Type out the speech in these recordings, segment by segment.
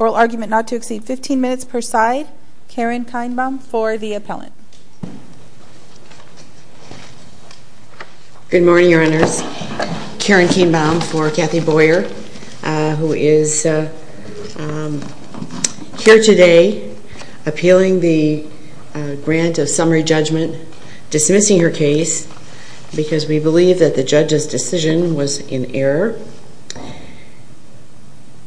Oral argument not to exceed 15 minutes per side, Karen Kainbaum for the appellant. Good morning, your honors. Karen Kainbaum for Kathy Boyer, who is here today to present her case. Appealing the grant of summary judgment, dismissing her case because we believe that the judge's decision was in error.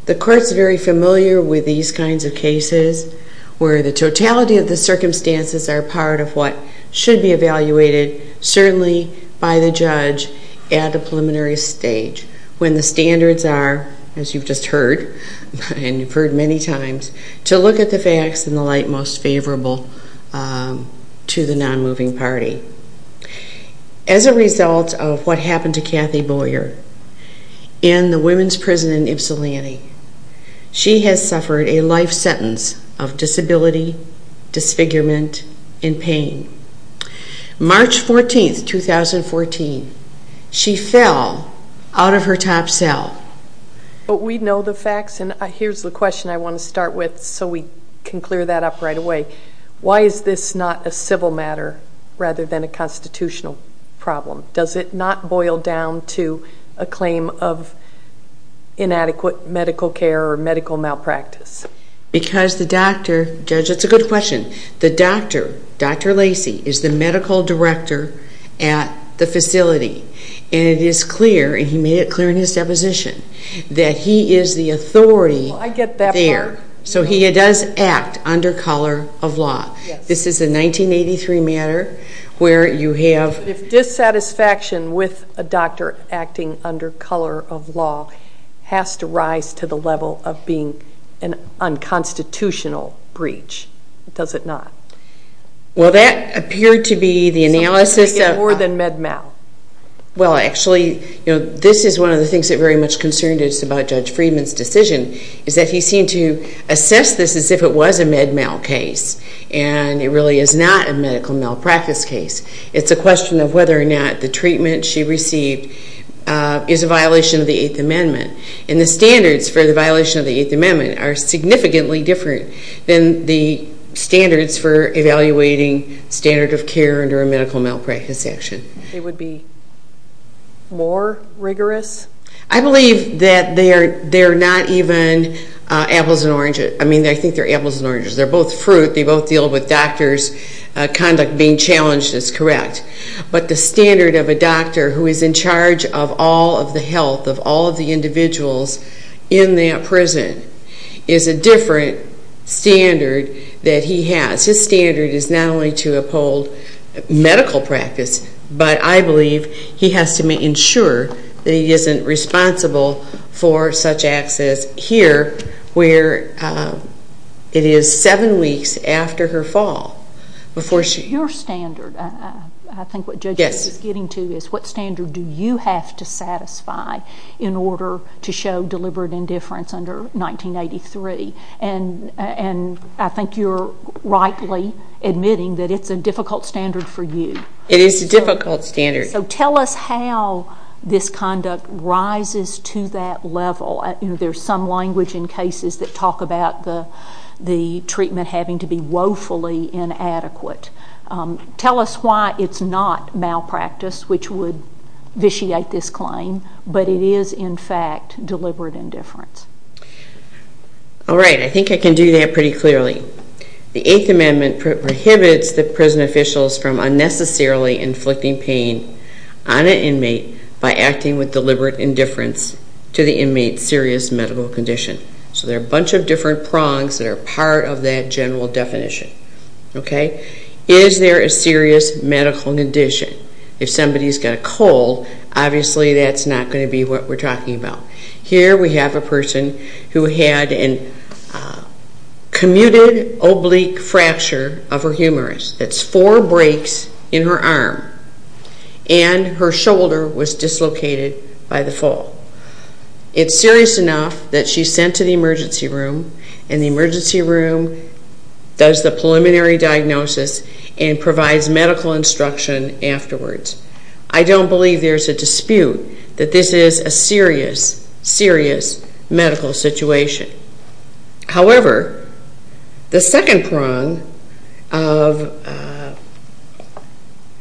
The court's very familiar with these kinds of cases where the totality of the circumstances are part of what should be evaluated, certainly by the judge, at the preliminary stage. When the standards are, as you've just heard, and you've heard many times, to look at the facts in the light most favorable to the non-moving party. As a result of what happened to Kathy Boyer in the women's prison in Ypsilanti, she has suffered a life sentence of disability, disfigurement, and pain. March 14, 2014, she fell out of her top cell. But we know the facts, and here's the question I want to start with so we can clear that up right away. Why is this not a civil matter rather than a constitutional problem? Does it not boil down to a claim of inadequate medical care or medical malpractice? Because the doctor, Judge, that's a good question. The doctor, Dr. Lacy, is the medical director at the facility, and it is clear, and he made it clear in his deposition, that he is the authority there. Well, I get that part. So he does act under color of law. Yes. This is a 1983 matter where you have... If dissatisfaction with a doctor acting under color of law has to rise to the level of being an unconstitutional breach, does it not? Well, that appeared to be the analysis of... So how could it get more than med mal? Well, actually, this is one of the things that very much concerned us about Judge Friedman's decision, is that he seemed to assess this as if it was a med mal case, and it really is not a medical malpractice case. It's a question of whether or not the treatment she received is a violation of the Eighth Amendment. And the standards for the violation of the standard of care under a medical malpractice action. It would be more rigorous? I believe that they're not even apples and oranges. I mean, I think they're apples and oranges. They're both fruit. They both deal with doctors' conduct being challenged, it's correct. But the standard of a doctor who is in charge of all of the health of all of the individuals in that prison is a different standard that he has. His standard is not only to uphold medical practice, but I believe he has to ensure that he isn't responsible for such acts as here, where it is seven weeks after her fall, before she... Your standard, I think what Judge Friedman is getting to, is what standard do you have to satisfy in order to show deliberate indifference under 1983? And I think you're rightly admitting that it's a difficult standard for you. It is a difficult standard. So tell us how this conduct rises to that level. There's some language in cases that talk about the treatment having to be woefully inadequate. Tell us why it's not malpractice, which would vitiate this claim, but it is, in fact, deliberate indifference. All right. I think I can do that pretty clearly. The Eighth Amendment prohibits the prison officials from unnecessarily inflicting pain on an inmate by acting with deliberate indifference to the inmate's serious medical condition. So there are a bunch of different prongs that of that general definition. Okay? Is there a serious medical condition? If somebody's got a cold, obviously that's not going to be what we're talking about. Here we have a person who had a commuted oblique fracture of her humerus. That's four breaks in her arm, and her shoulder was dislocated by the fall. It's serious enough that she's sent to the emergency room, and the emergency room does the preliminary diagnosis and provides medical instruction afterwards. I don't believe there's a dispute that this is a serious, serious medical situation. However, the second prong of...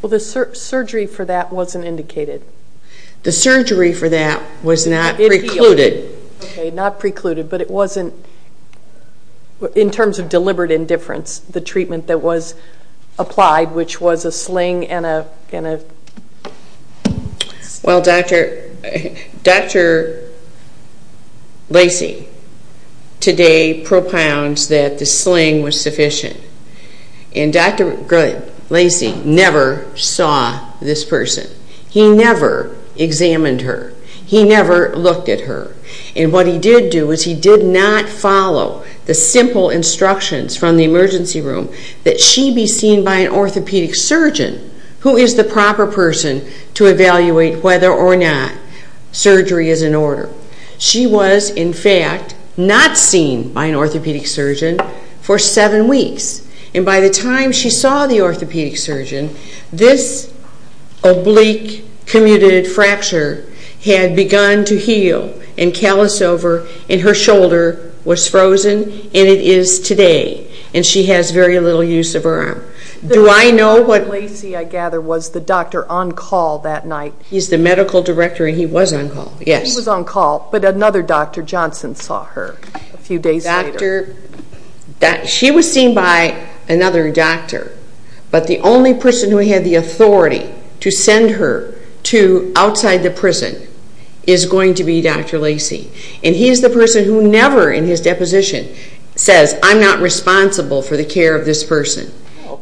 Well, the surgery for that wasn't indicated. The surgery for that was not precluded. Okay, not precluded, but it wasn't, in terms of deliberate indifference, the treatment that was applied, which was a sling and a... Well, Dr. Lacey today propounds that the sling was sufficient, and Dr. Lacey never saw this And what he did do is he did not follow the simple instructions from the emergency room that she be seen by an orthopedic surgeon, who is the proper person to evaluate whether or not surgery is in order. She was, in fact, not seen by an orthopedic surgeon for seven weeks, and by the time she saw the orthopedic surgeon, this oblique commuted fracture had begun to heal and callous over, and her shoulder was frozen, and it is today, and she has very little use of her arm. Do I know what... Dr. Lacey, I gather, was the doctor on call that night. He's the medical director, and he was on call, yes. He was on call, but another Dr. Johnson saw her a few days later. She was seen by another doctor, but the only person who had the authority to send her to is going to be Dr. Lacey, and he is the person who never in his deposition says, I'm not responsible for the care of this person.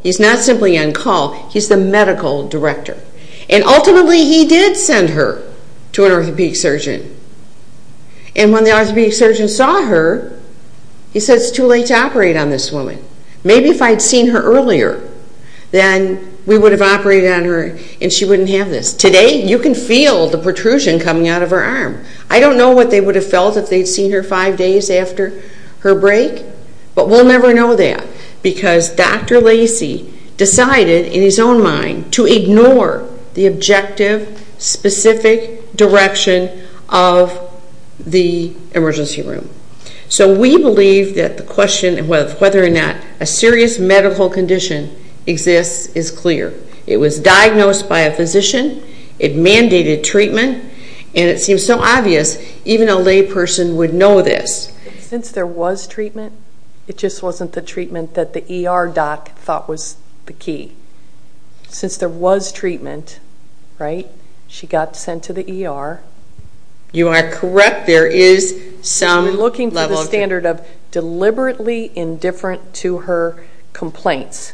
He's not simply on call, he's the medical director, and ultimately he did send her to an orthopedic surgeon, and when the orthopedic surgeon saw her, he said, it's too late to operate on this woman. Maybe if I had seen her earlier, then we would have operated on her, and she wouldn't have this. Today, you can feel the protrusion coming out of her arm. I don't know what they would have felt if they had seen her five days after her break, but we'll never know that, because Dr. Lacey decided in his own mind to ignore the objective, specific direction of the emergency room. So we believe that the question of whether or not a serious medical condition exists is clear. It was diagnosed by a physician, it mandated treatment, and it seems so obvious, even a lay person would know this. Since there was treatment, it just wasn't the treatment that the ER doc thought was the key. Since there was treatment, right, she got sent to the ER. You are correct, there is some level of treatment. She was looking for the standard of deliberately indifferent to her complaints.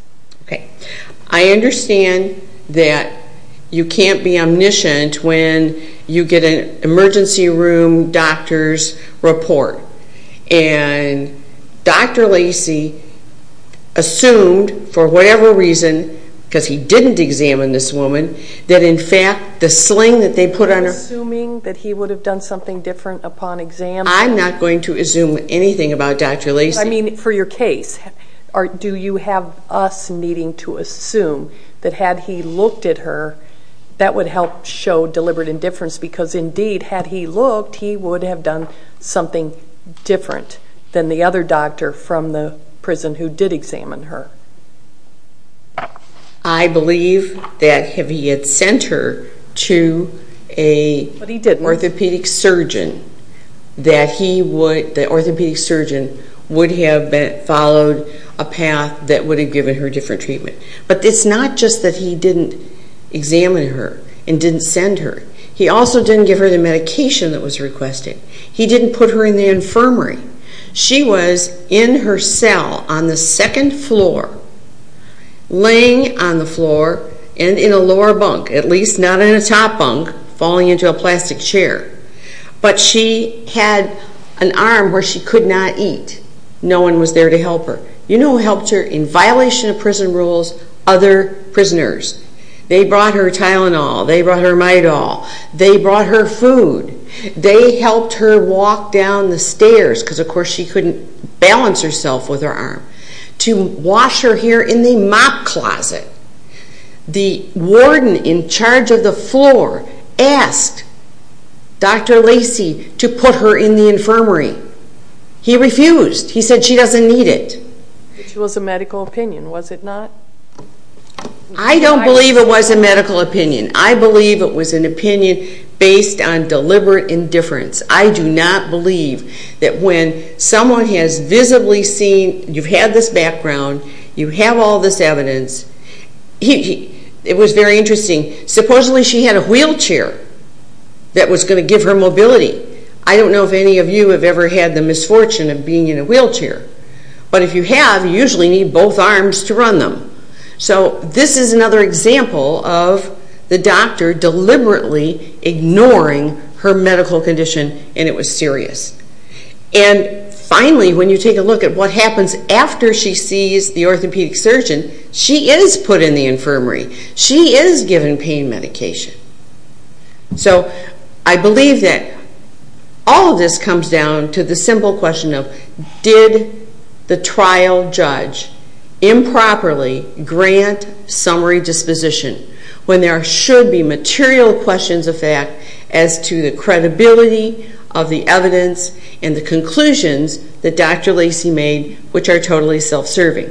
I understand that you can't be omniscient when you get an emergency room doctor's report, and Dr. Lacey assumed, for whatever reason, because he didn't examine this woman, that in fact the sling that they put on her... You're assuming that he would have done something different upon examination? I'm not going to assume anything about Dr. Lacey. I mean for your case. Do you have us needing to assume that had he looked at her, that would help show deliberate indifference? Because indeed, had he looked, he would have done something different than the other doctor from the prison who did examine her. I believe that if he had sent her to an orthopedic surgeon, that the orthopedic surgeon would have followed a path that would have given her a different treatment. But it's not just that he didn't examine her and didn't send her. He also didn't give her the medication that was requested. He didn't put her in the infirmary. She was in her cell on the second floor, laying on the floor and in a lower bunk, at least not in a top bunk, falling into a plastic chair. But she had an arm where she could not eat. No one was there to help her. You know who helped her in violation of prison rules? Other prisoners. They brought her Tylenol. They brought her Midol. They brought her food. They helped her walk down the stairs, because of course she couldn't balance herself with her arm, to wash her hair in the mop closet. The warden in charge of the floor asked Dr. Lacey to put her in the infirmary. He refused. He said she doesn't need it. It was a medical opinion, was it not? I don't believe it was a medical opinion. I believe it was an opinion based on deliberate indifference. I do not believe that when someone has visibly seen, you've had this background, you have all this evidence. It was very interesting. Supposedly she had a wheelchair that was going to give her mobility. I don't know if any of you have ever had the misfortune of being in a wheelchair. But if you have, you usually need both arms to run them. So this is another example of the doctor deliberately ignoring her medical condition, and it was serious. Finally, when you take a look at what happens after she sees the orthopedic surgeon, she is put in the infirmary. She is given pain medication. So I believe that all of this comes down to the simple question of, did the trial judge improperly grant summary disposition, when there should be material questions of fact as to the credibility of the evidence and the conclusions that Dr. Lacy made, which are totally self-serving.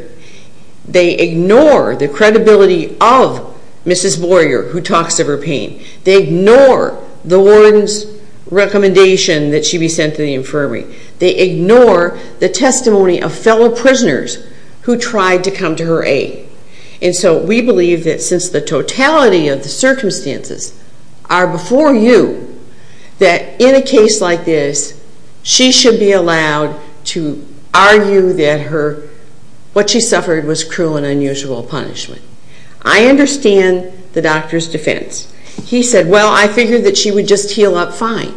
They ignore the credibility of Mrs. Boyer, who talks of her pain. They ignore the warden's recommendation that she be sent to the infirmary. They ignore the testimony of fellow prisoners who tried to come to her aid. And so we believe that since the totality of the circumstances are before you, that in a case like this, she should be allowed to argue that what she suffered was cruel and unusual punishment. I understand the doctor's defense. He said, well, I figured that she would just heal up fine.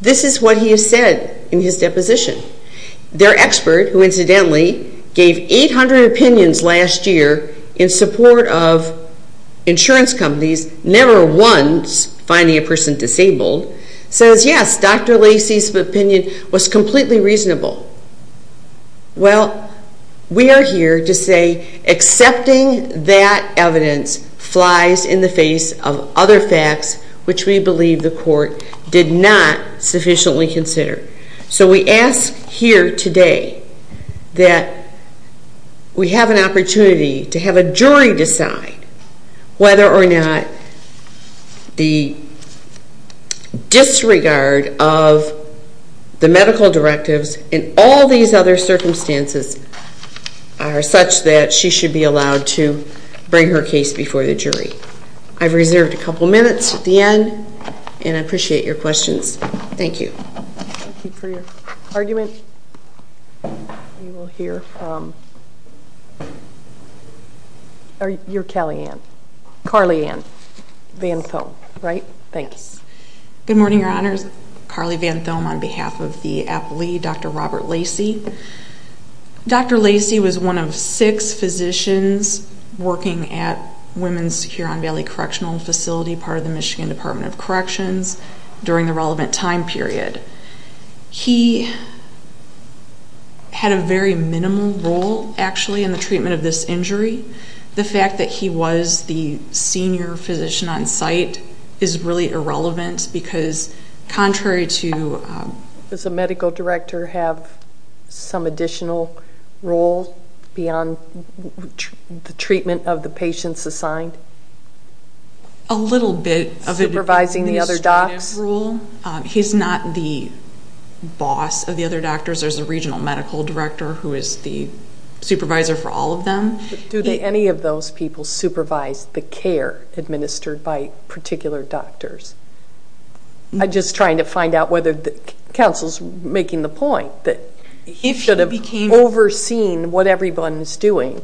This is what he has said in his deposition. Their expert, who incidentally gave 800 opinions last year in support of insurance companies never once finding a person disabled, says, yes, Dr. Lacy's opinion was completely reasonable. Well, we are here to say accepting that evidence flies in the face of other facts which we believe the court did not sufficiently consider. So we ask here today that we have an opportunity to have a jury decide whether or not the disregard of the medical directives and all these other circumstances are such that she should be allowed to bring her case before the jury. I've reserved a couple minutes at the end, and I appreciate your questions. Thank you. Thank you for your argument. We will hear from your Cali-Anne, Carly-Anne Van Thome, right? Thank you. Good morning, Your Honors. Carly Van Thome on behalf of the appellee, Dr. Robert Lacy. Dr. Lacy was one of six physicians working at Women's Huron Valley Correctional Facility, part of the Michigan Department of Corrections, during the relevant time period. He had a very minimal role, actually, in the treatment of this injury. The fact that he was the senior physician on site is really irrelevant because contrary to Does the medical director have some additional role beyond the treatment of the patients assigned? A little bit. Supervising the other docs? He's not the boss of the other doctors. There's a regional medical director who is the supervisor for all of them. Do any of those people supervise the care administered by particular doctors? I'm just trying to find out whether counsel is making the point that he should have overseen what everyone is doing.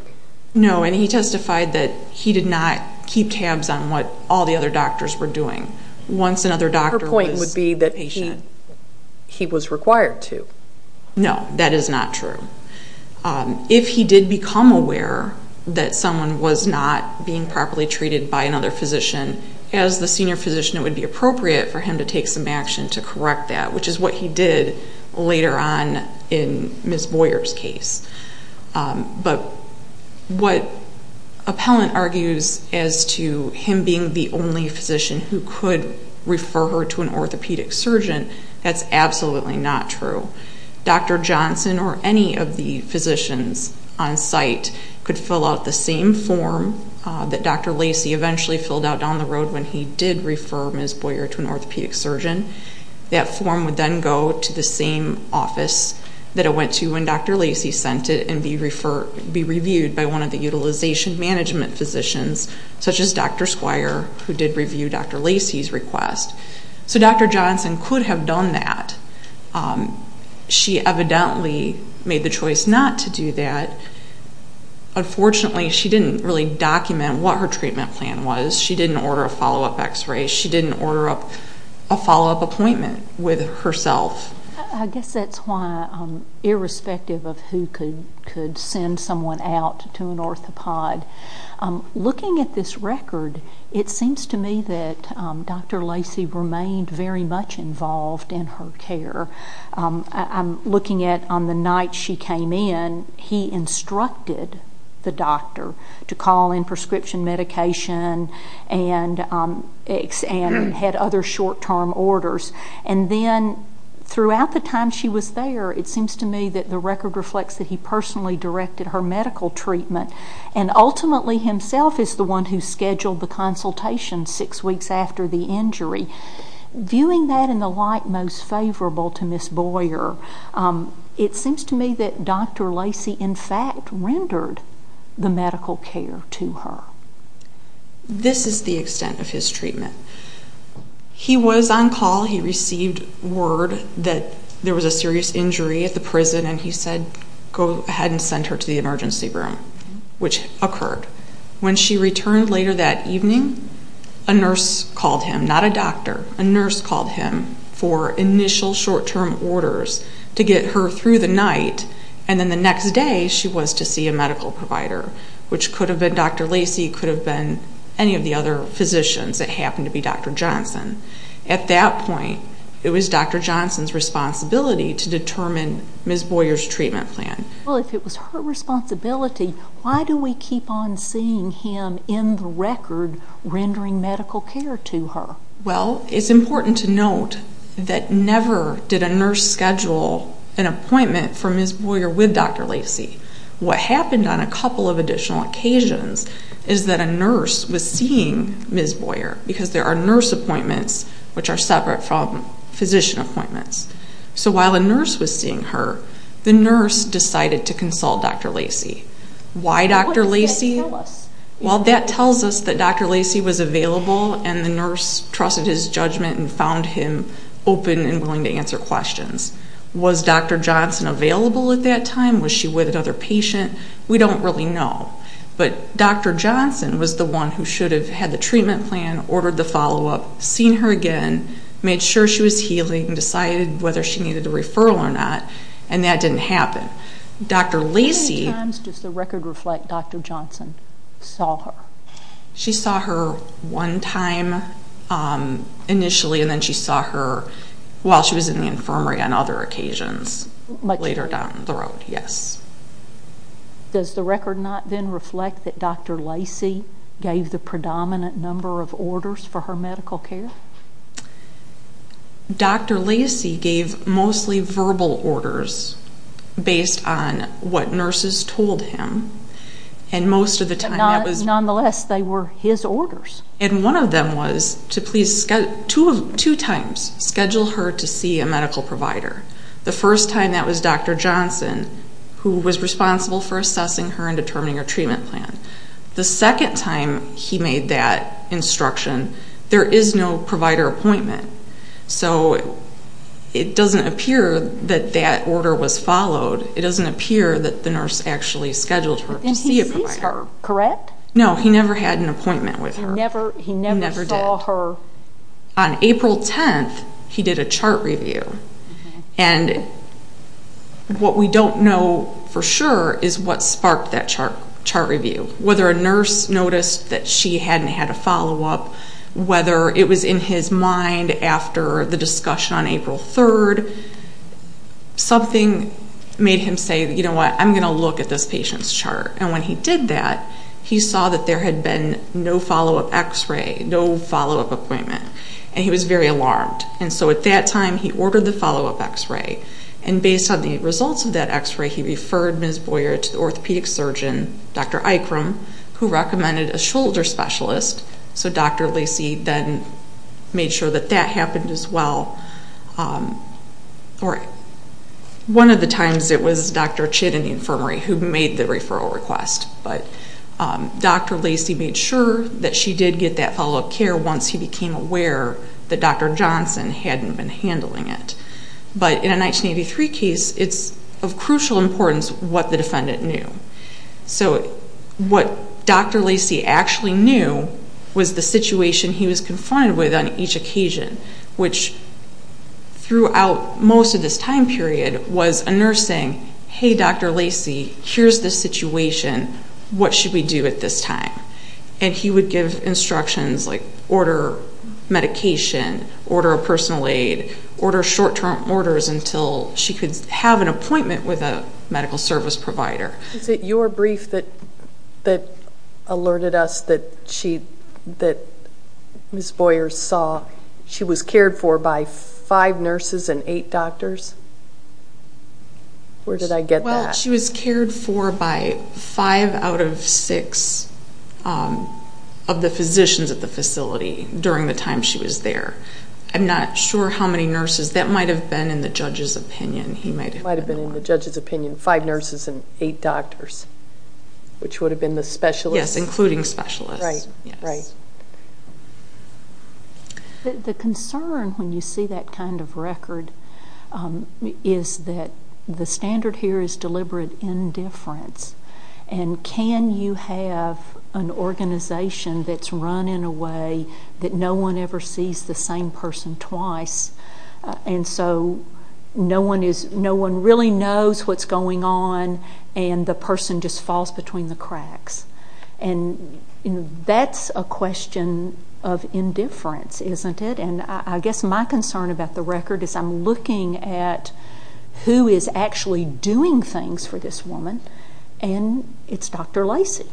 No, and he testified that he did not keep tabs on what all the other doctors were doing. Her point would be that he was required to. No, that is not true. If he did become aware that someone was not being properly treated by another physician, as the senior physician, it would be appropriate for him to take some action to correct that, which is what he did later on in Ms. Boyer's case. But what appellant argues as to him being the only physician who could refer her to an orthopedic surgeon, that's absolutely not true. Dr. Johnson or any of the physicians on site could fill out the same form that Dr. Lacey eventually filled out down the road when he did refer Ms. Boyer to an orthopedic surgeon. That form would then go to the same office that it went to when Dr. Lacey sent it and be reviewed by one of the utilization management physicians, such as Dr. Squire, who did review Dr. Lacey's request. So Dr. Johnson could have done that. She evidently made the choice not to do that. Unfortunately, she didn't really document what her treatment plan was. She didn't order a follow-up x-ray. She didn't order a follow-up appointment with herself. I guess that's why, irrespective of who could send someone out to an orthopod, looking at this record, it seems to me that Dr. Lacey remained very much involved in her care. I'm looking at on the night she came in, he instructed the doctor to call in prescription medication and had other short-term orders. And then throughout the time she was there, it seems to me that the record reflects that he personally directed her medical treatment and ultimately himself is the one who scheduled the consultation six weeks after the injury. Viewing that in the light most favorable to Ms. Boyer, it seems to me that Dr. Lacey in fact rendered the medical care to her. This is the extent of his treatment. He was on call. He received word that there was a serious injury at the prison, and he said go ahead and send her to the emergency room, which occurred. When she returned later that evening, a nurse called him, not a doctor. A nurse called him for initial short-term orders to get her through the night, and then the next day she was to see a medical provider, which could have been Dr. Lacey, could have been any of the other physicians. It happened to be Dr. Johnson. At that point, it was Dr. Johnson's responsibility to determine Ms. Boyer's treatment plan. Well, if it was her responsibility, why do we keep on seeing him in the record rendering medical care to her? Well, it's important to note that never did a nurse schedule an appointment for Ms. Boyer with Dr. Lacey. What happened on a couple of additional occasions is that a nurse was seeing Ms. Boyer because there are nurse appointments which are separate from physician appointments. So while a nurse was seeing her, the nurse decided to consult Dr. Lacey. Why Dr. Lacey? Well, that tells us that Dr. Lacey was available, and the nurse trusted his judgment and found him open and willing to answer questions. Was Dr. Johnson available at that time? Was she with another patient? We don't really know, but Dr. Johnson was the one who should have had the treatment plan, ordered the follow-up, seen her again, made sure she was healing, decided whether she needed a referral or not, and that didn't happen. How many times does the record reflect Dr. Johnson saw her? She saw her one time initially, and then she saw her while she was in the infirmary on other occasions later down the road, yes. Does the record not then reflect that Dr. Lacey gave the predominant number of orders for her medical care? Dr. Lacey gave mostly verbal orders based on what nurses told him, and most of the time that was... But nonetheless, they were his orders. And one of them was to please two times schedule her to see a medical provider. The first time, that was Dr. Johnson, who was responsible for assessing her and determining her treatment plan. The second time he made that instruction, there is no provider appointment. So it doesn't appear that that order was followed. It doesn't appear that the nurse actually scheduled her to see a provider. And he sees her, correct? No, he never had an appointment with her. He never saw her. On April 10th, he did a chart review. And what we don't know for sure is what sparked that chart review, whether a nurse noticed that she hadn't had a follow-up, whether it was in his mind after the discussion on April 3rd. Something made him say, you know what, I'm going to look at this patient's chart. And when he did that, he saw that there had been no follow-up x-ray, no follow-up appointment, and he was very alarmed. And so at that time, he ordered the follow-up x-ray. And based on the results of that x-ray, he referred Ms. Boyer to the orthopedic surgeon, Dr. Ikram, who recommended a shoulder specialist. So Dr. Lacy then made sure that that happened as well. One of the times it was Dr. Chitt in the infirmary who made the referral request. But Dr. Lacy made sure that she did get that follow-up care once he became aware that Dr. Johnson hadn't been handling it. But in a 1983 case, it's of crucial importance what the defendant knew. So what Dr. Lacy actually knew was the situation he was confronted with on each occasion, which throughout most of this time period was a nurse saying, Hey, Dr. Lacy, here's the situation. What should we do at this time? And he would give instructions like order medication, order a personal aid, order short-term orders until she could have an appointment with a medical service provider. Is it your brief that alerted us that Ms. Boyer saw she was cared for by five nurses and eight doctors? Where did I get that? Well, she was cared for by five out of six of the physicians at the facility during the time she was there. I'm not sure how many nurses. That might have been in the judge's opinion. It might have been in the judge's opinion, five nurses and eight doctors, which would have been the specialists. Yes, including specialists. The concern when you see that kind of record is that the standard here is deliberate indifference. And can you have an organization that's run in a way that no one ever sees the same person twice and so no one really knows what's going on and the person just falls between the cracks? And that's a question of indifference, isn't it? And I guess my concern about the record is I'm looking at who is actually doing things for this woman, and it's Dr. Lacy.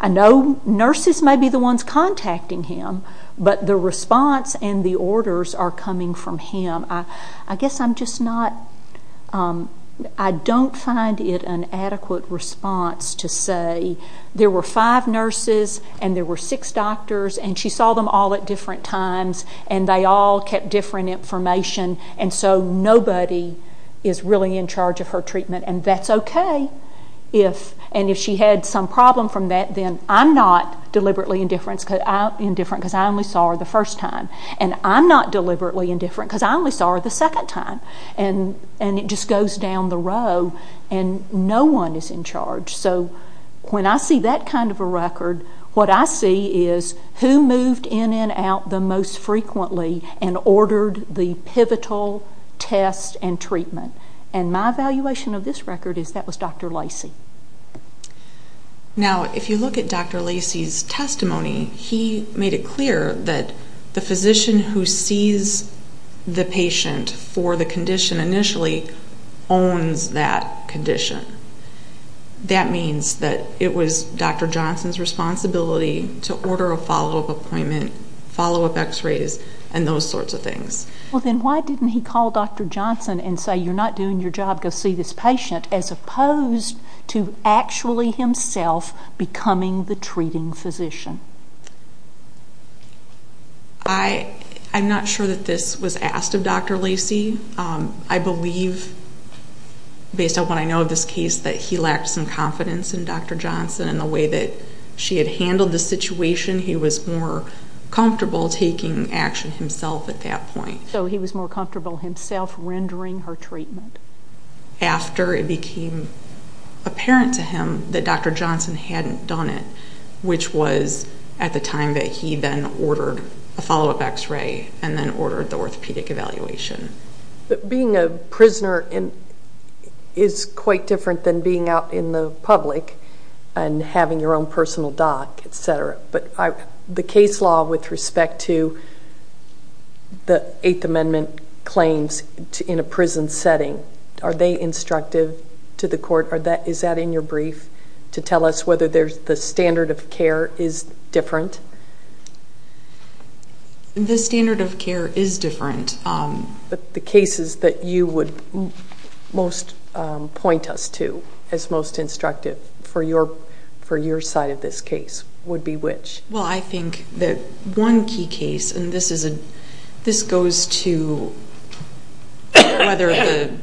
I know nurses may be the ones contacting him, but the response and the orders are coming from him. I guess I'm just not, I don't find it an adequate response to say there were five nurses and there were six doctors and she saw them all at different times and they all kept different information and so nobody is really in charge of her treatment. And that's okay. And if she had some problem from that, then I'm not deliberately indifferent because I only saw her the first time. And I'm not deliberately indifferent because I only saw her the second time. And it just goes down the row and no one is in charge. So when I see that kind of a record, what I see is who moved in and out the most frequently and ordered the pivotal test and treatment. And my evaluation of this record is that was Dr. Lacy. Now, if you look at Dr. Lacy's testimony, he made it clear that the physician who sees the patient for the condition initially owns that condition. That means that it was Dr. Johnson's responsibility to order a follow-up appointment, follow-up x-rays, and those sorts of things. Well, then why didn't he call Dr. Johnson and say, you're not doing your job, go see this patient, as opposed to actually himself becoming the treating physician? I'm not sure that this was asked of Dr. Lacy. I believe, based on what I know of this case, that he lacked some confidence in Dr. Johnson and the way that she had handled the situation, he was more comfortable taking action himself at that point. So he was more comfortable himself rendering her treatment. After it became apparent to him that Dr. Johnson hadn't done it, which was at the time that he then ordered a follow-up x-ray and then ordered the orthopedic evaluation. Being a prisoner is quite different than being out in the public and having your own personal doc, etc. But the case law with respect to the Eighth Amendment claims in a prison setting, are they instructive to the court? Is that in your brief to tell us whether the standard of care is different? The standard of care is different. The cases that you would most point us to as most instructive for your side of this case would be which? Well, I think that one key case, and this goes to whether the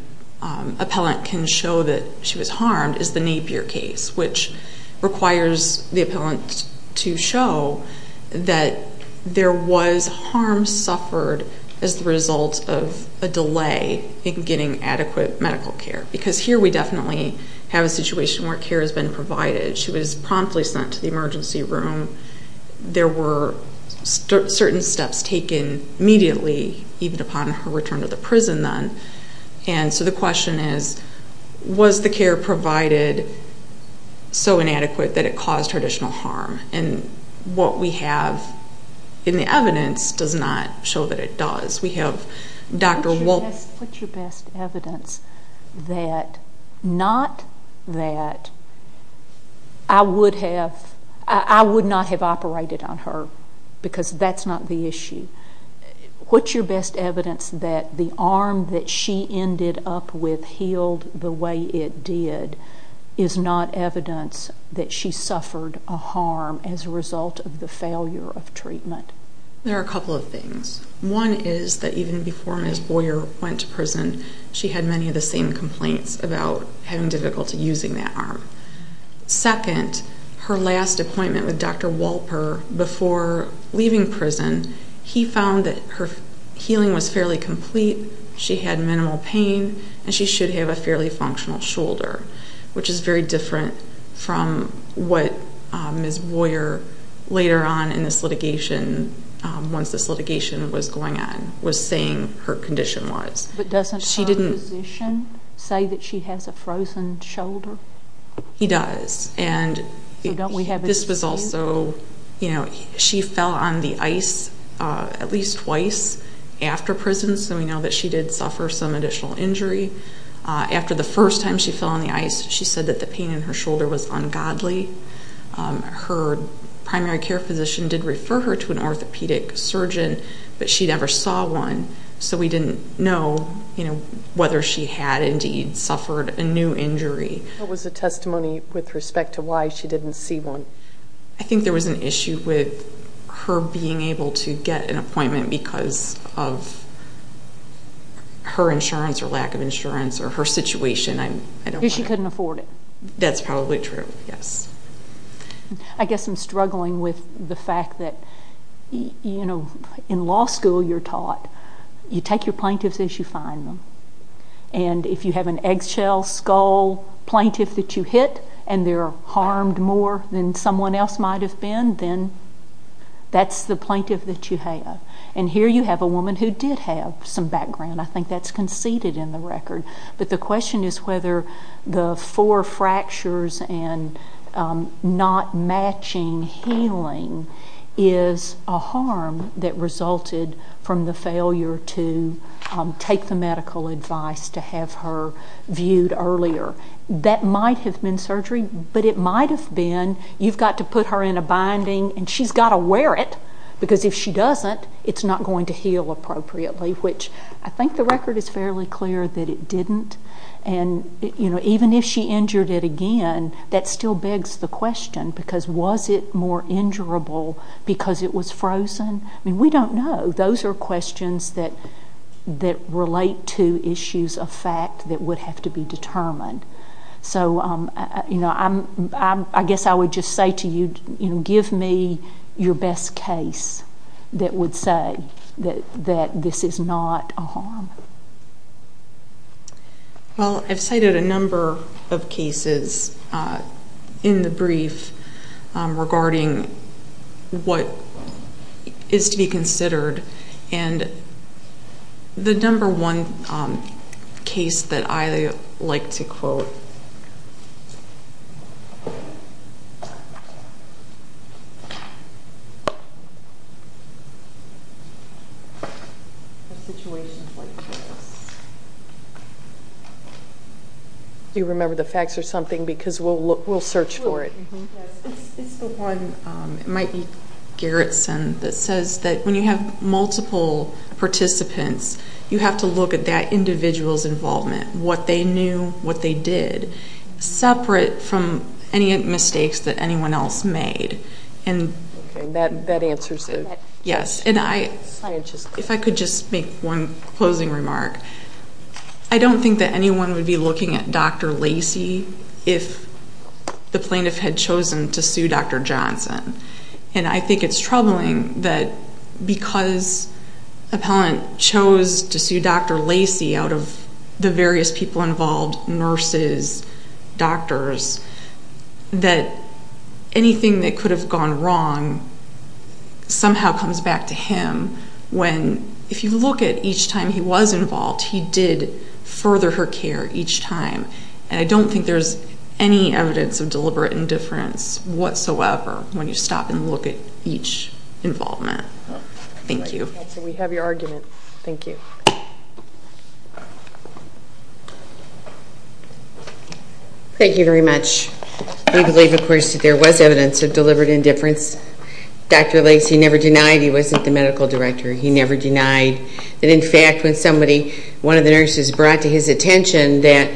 appellant can show that she was harmed, is the Napier case, which requires the appellant to show that there was harm suffered as the result of a delay in getting adequate medical care. Because here we definitely have a situation where care has been provided. She was promptly sent to the emergency room. There were certain steps taken immediately, even upon her return to the prison then. And so the question is, was the care provided so inadequate that it caused her additional harm? And what we have in the evidence does not show that it does. What's your best evidence that not that I would not have operated on her, because that's not the issue. What's your best evidence that the arm that she ended up with healed the way it did is not evidence that she suffered a harm as a result of the failure of treatment? There are a couple of things. One is that even before Ms. Boyer went to prison, she had many of the same complaints about having difficulty using that arm. Second, her last appointment with Dr. Walper before leaving prison, he found that her healing was fairly complete, she had minimal pain, and she should have a fairly functional shoulder, which is very different from what Ms. Boyer later on in this litigation, once this litigation was going on, was saying her condition was. But doesn't her physician say that she has a frozen shoulder? He does, and this was also, you know, she fell on the ice at least twice after prison, so we know that she did suffer some additional injury. After the first time she fell on the ice, she said that the pain in her shoulder was ungodly. Her primary care physician did refer her to an orthopedic surgeon, but she never saw one, so we didn't know whether she had indeed suffered a new injury. What was the testimony with respect to why she didn't see one? I think there was an issue with her being able to get an appointment because of her insurance or lack of insurance or her situation. Because she couldn't afford it. That's probably true, yes. I guess I'm struggling with the fact that, you know, in law school you're taught you take your plaintiffs as you find them. And if you have an eggshell, skull plaintiff that you hit and they're harmed more than someone else might have been, then that's the plaintiff that you have. And here you have a woman who did have some background. I think that's conceded in the record. But the question is whether the four fractures and not matching healing is a harm that resulted from the failure to take the medical advice to have her viewed earlier. That might have been surgery, but it might have been you've got to put her in a binding and she's got to wear it because if she doesn't, it's not going to heal appropriately, which I think the record is fairly clear that it didn't. And, you know, even if she injured it again, that still begs the question because was it more injurable because it was frozen? I mean, we don't know. Those are questions that relate to issues of fact that would have to be determined. So, you know, I guess I would just say to you, you know, that would say that this is not a harm. Well, I've cited a number of cases in the brief regarding what is to be considered, and the number one case that I like to quote. Do you remember the facts or something? Because we'll search for it. It's the one, it might be Gerritsen, that says that when you have multiple participants, you have to look at that individual's involvement, what they knew, what they did, separate from any mistakes that anyone else made. That answers it. Yes. Scientifically. If I could just make one closing remark. I don't think that anyone would be looking at Dr. Lacey if the plaintiff had chosen to sue Dr. Johnson. And I think it's troubling that because an appellant chose to sue Dr. Lacey out of the various people involved, nurses, doctors, that anything that could have gone wrong somehow comes back to him when, if you look at each time he was involved, he did further her care each time. And I don't think there's any evidence of deliberate indifference whatsoever when you stop and look at each involvement. Thank you. Counsel, we have your argument. Thank you. Thank you very much. We believe, of course, that there was evidence of deliberate indifference. Dr. Lacey never denied he wasn't the medical director. He never denied that, in fact, when one of the nurses brought to his attention that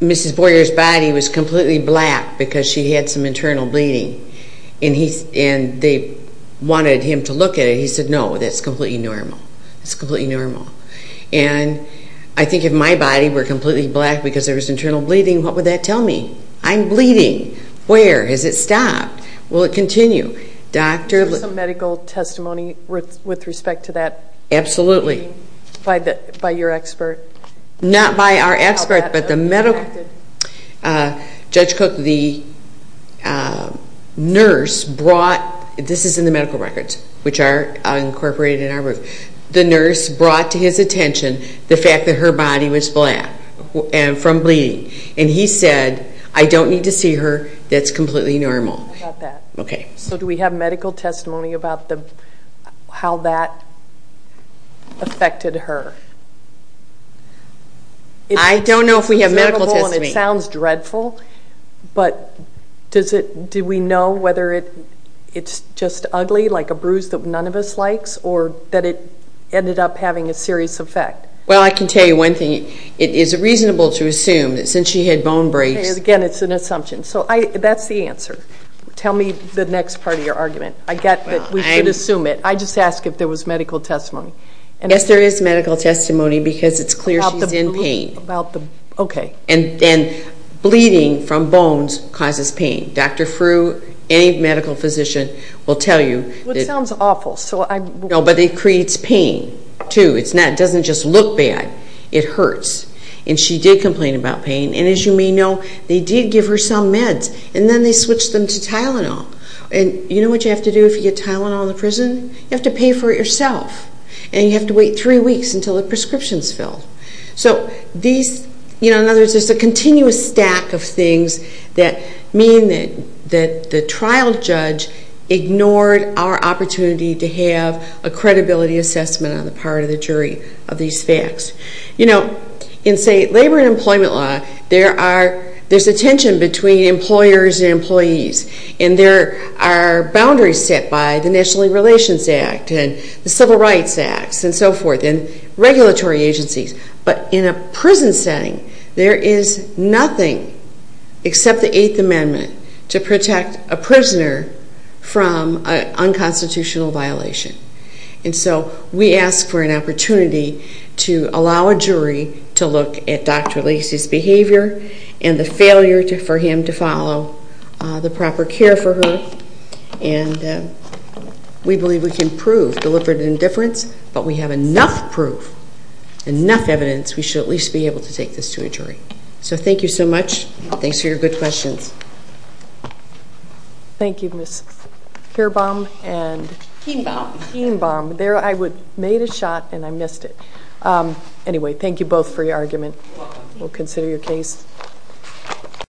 Mrs. Boyer's body was completely black because she had some internal bleeding and they wanted him to look at it, he said, no, that's completely normal. That's completely normal. And I think if my body were completely black because there was internal bleeding, what would that tell me? I'm bleeding. Where? Has it stopped? Will it continue? Is there some medical testimony with respect to that? Absolutely. By your expert? Not by our expert, but the medical, Judge Cook, the nurse brought, this is in the medical records, which are incorporated in our rules, the nurse brought to his attention the fact that her body was black from bleeding, and he said, I don't need to see her, that's completely normal. How about that? Okay. So do we have medical testimony about how that affected her? I don't know if we have medical testimony. It sounds dreadful, but do we know whether it's just ugly, like a bruise that none of us likes, or that it ended up having a serious effect? Well, I can tell you one thing. It is reasonable to assume that since she had bone breaks. Again, it's an assumption. So that's the answer. Tell me the next part of your argument. I get that we can assume it. I just ask if there was medical testimony. Yes, there is medical testimony because it's clear she's in pain. Okay. And bleeding from bones causes pain. Dr. Frew, any medical physician will tell you. Well, it sounds awful. No, but it creates pain, too. It doesn't just look bad. It hurts. And she did complain about pain. And as you may know, they did give her some meds. And then they switched them to Tylenol. And you know what you have to do if you get Tylenol in the prison? You have to pay for it yourself. And you have to wait three weeks until the prescription is filled. So these, you know, in other words, there's a continuous stack of things that mean that the trial judge ignored our opportunity to have a credibility assessment on the part of the jury of these facts. You know, in, say, labor and employment law, there's a tension between employers and employees. And there are boundaries set by the National League Relations Act and the Civil Rights Act and so forth and regulatory agencies. But in a prison setting, there is nothing except the Eighth Amendment to protect a prisoner from an unconstitutional violation. And so we ask for an opportunity to allow a jury to look at Dr. Lacey's behavior and the failure for him to follow the proper care for her. And we believe we can prove deliberate indifference, but we have enough proof, enough evidence, we should at least be able to take this to a jury. So thank you so much. Thanks for your good questions. Thank you, Ms. Kierbaum. Kienbaum. Kienbaum. There I made a shot and I missed it. Anyway, thank you both for your argument. You're welcome. We'll consider your case.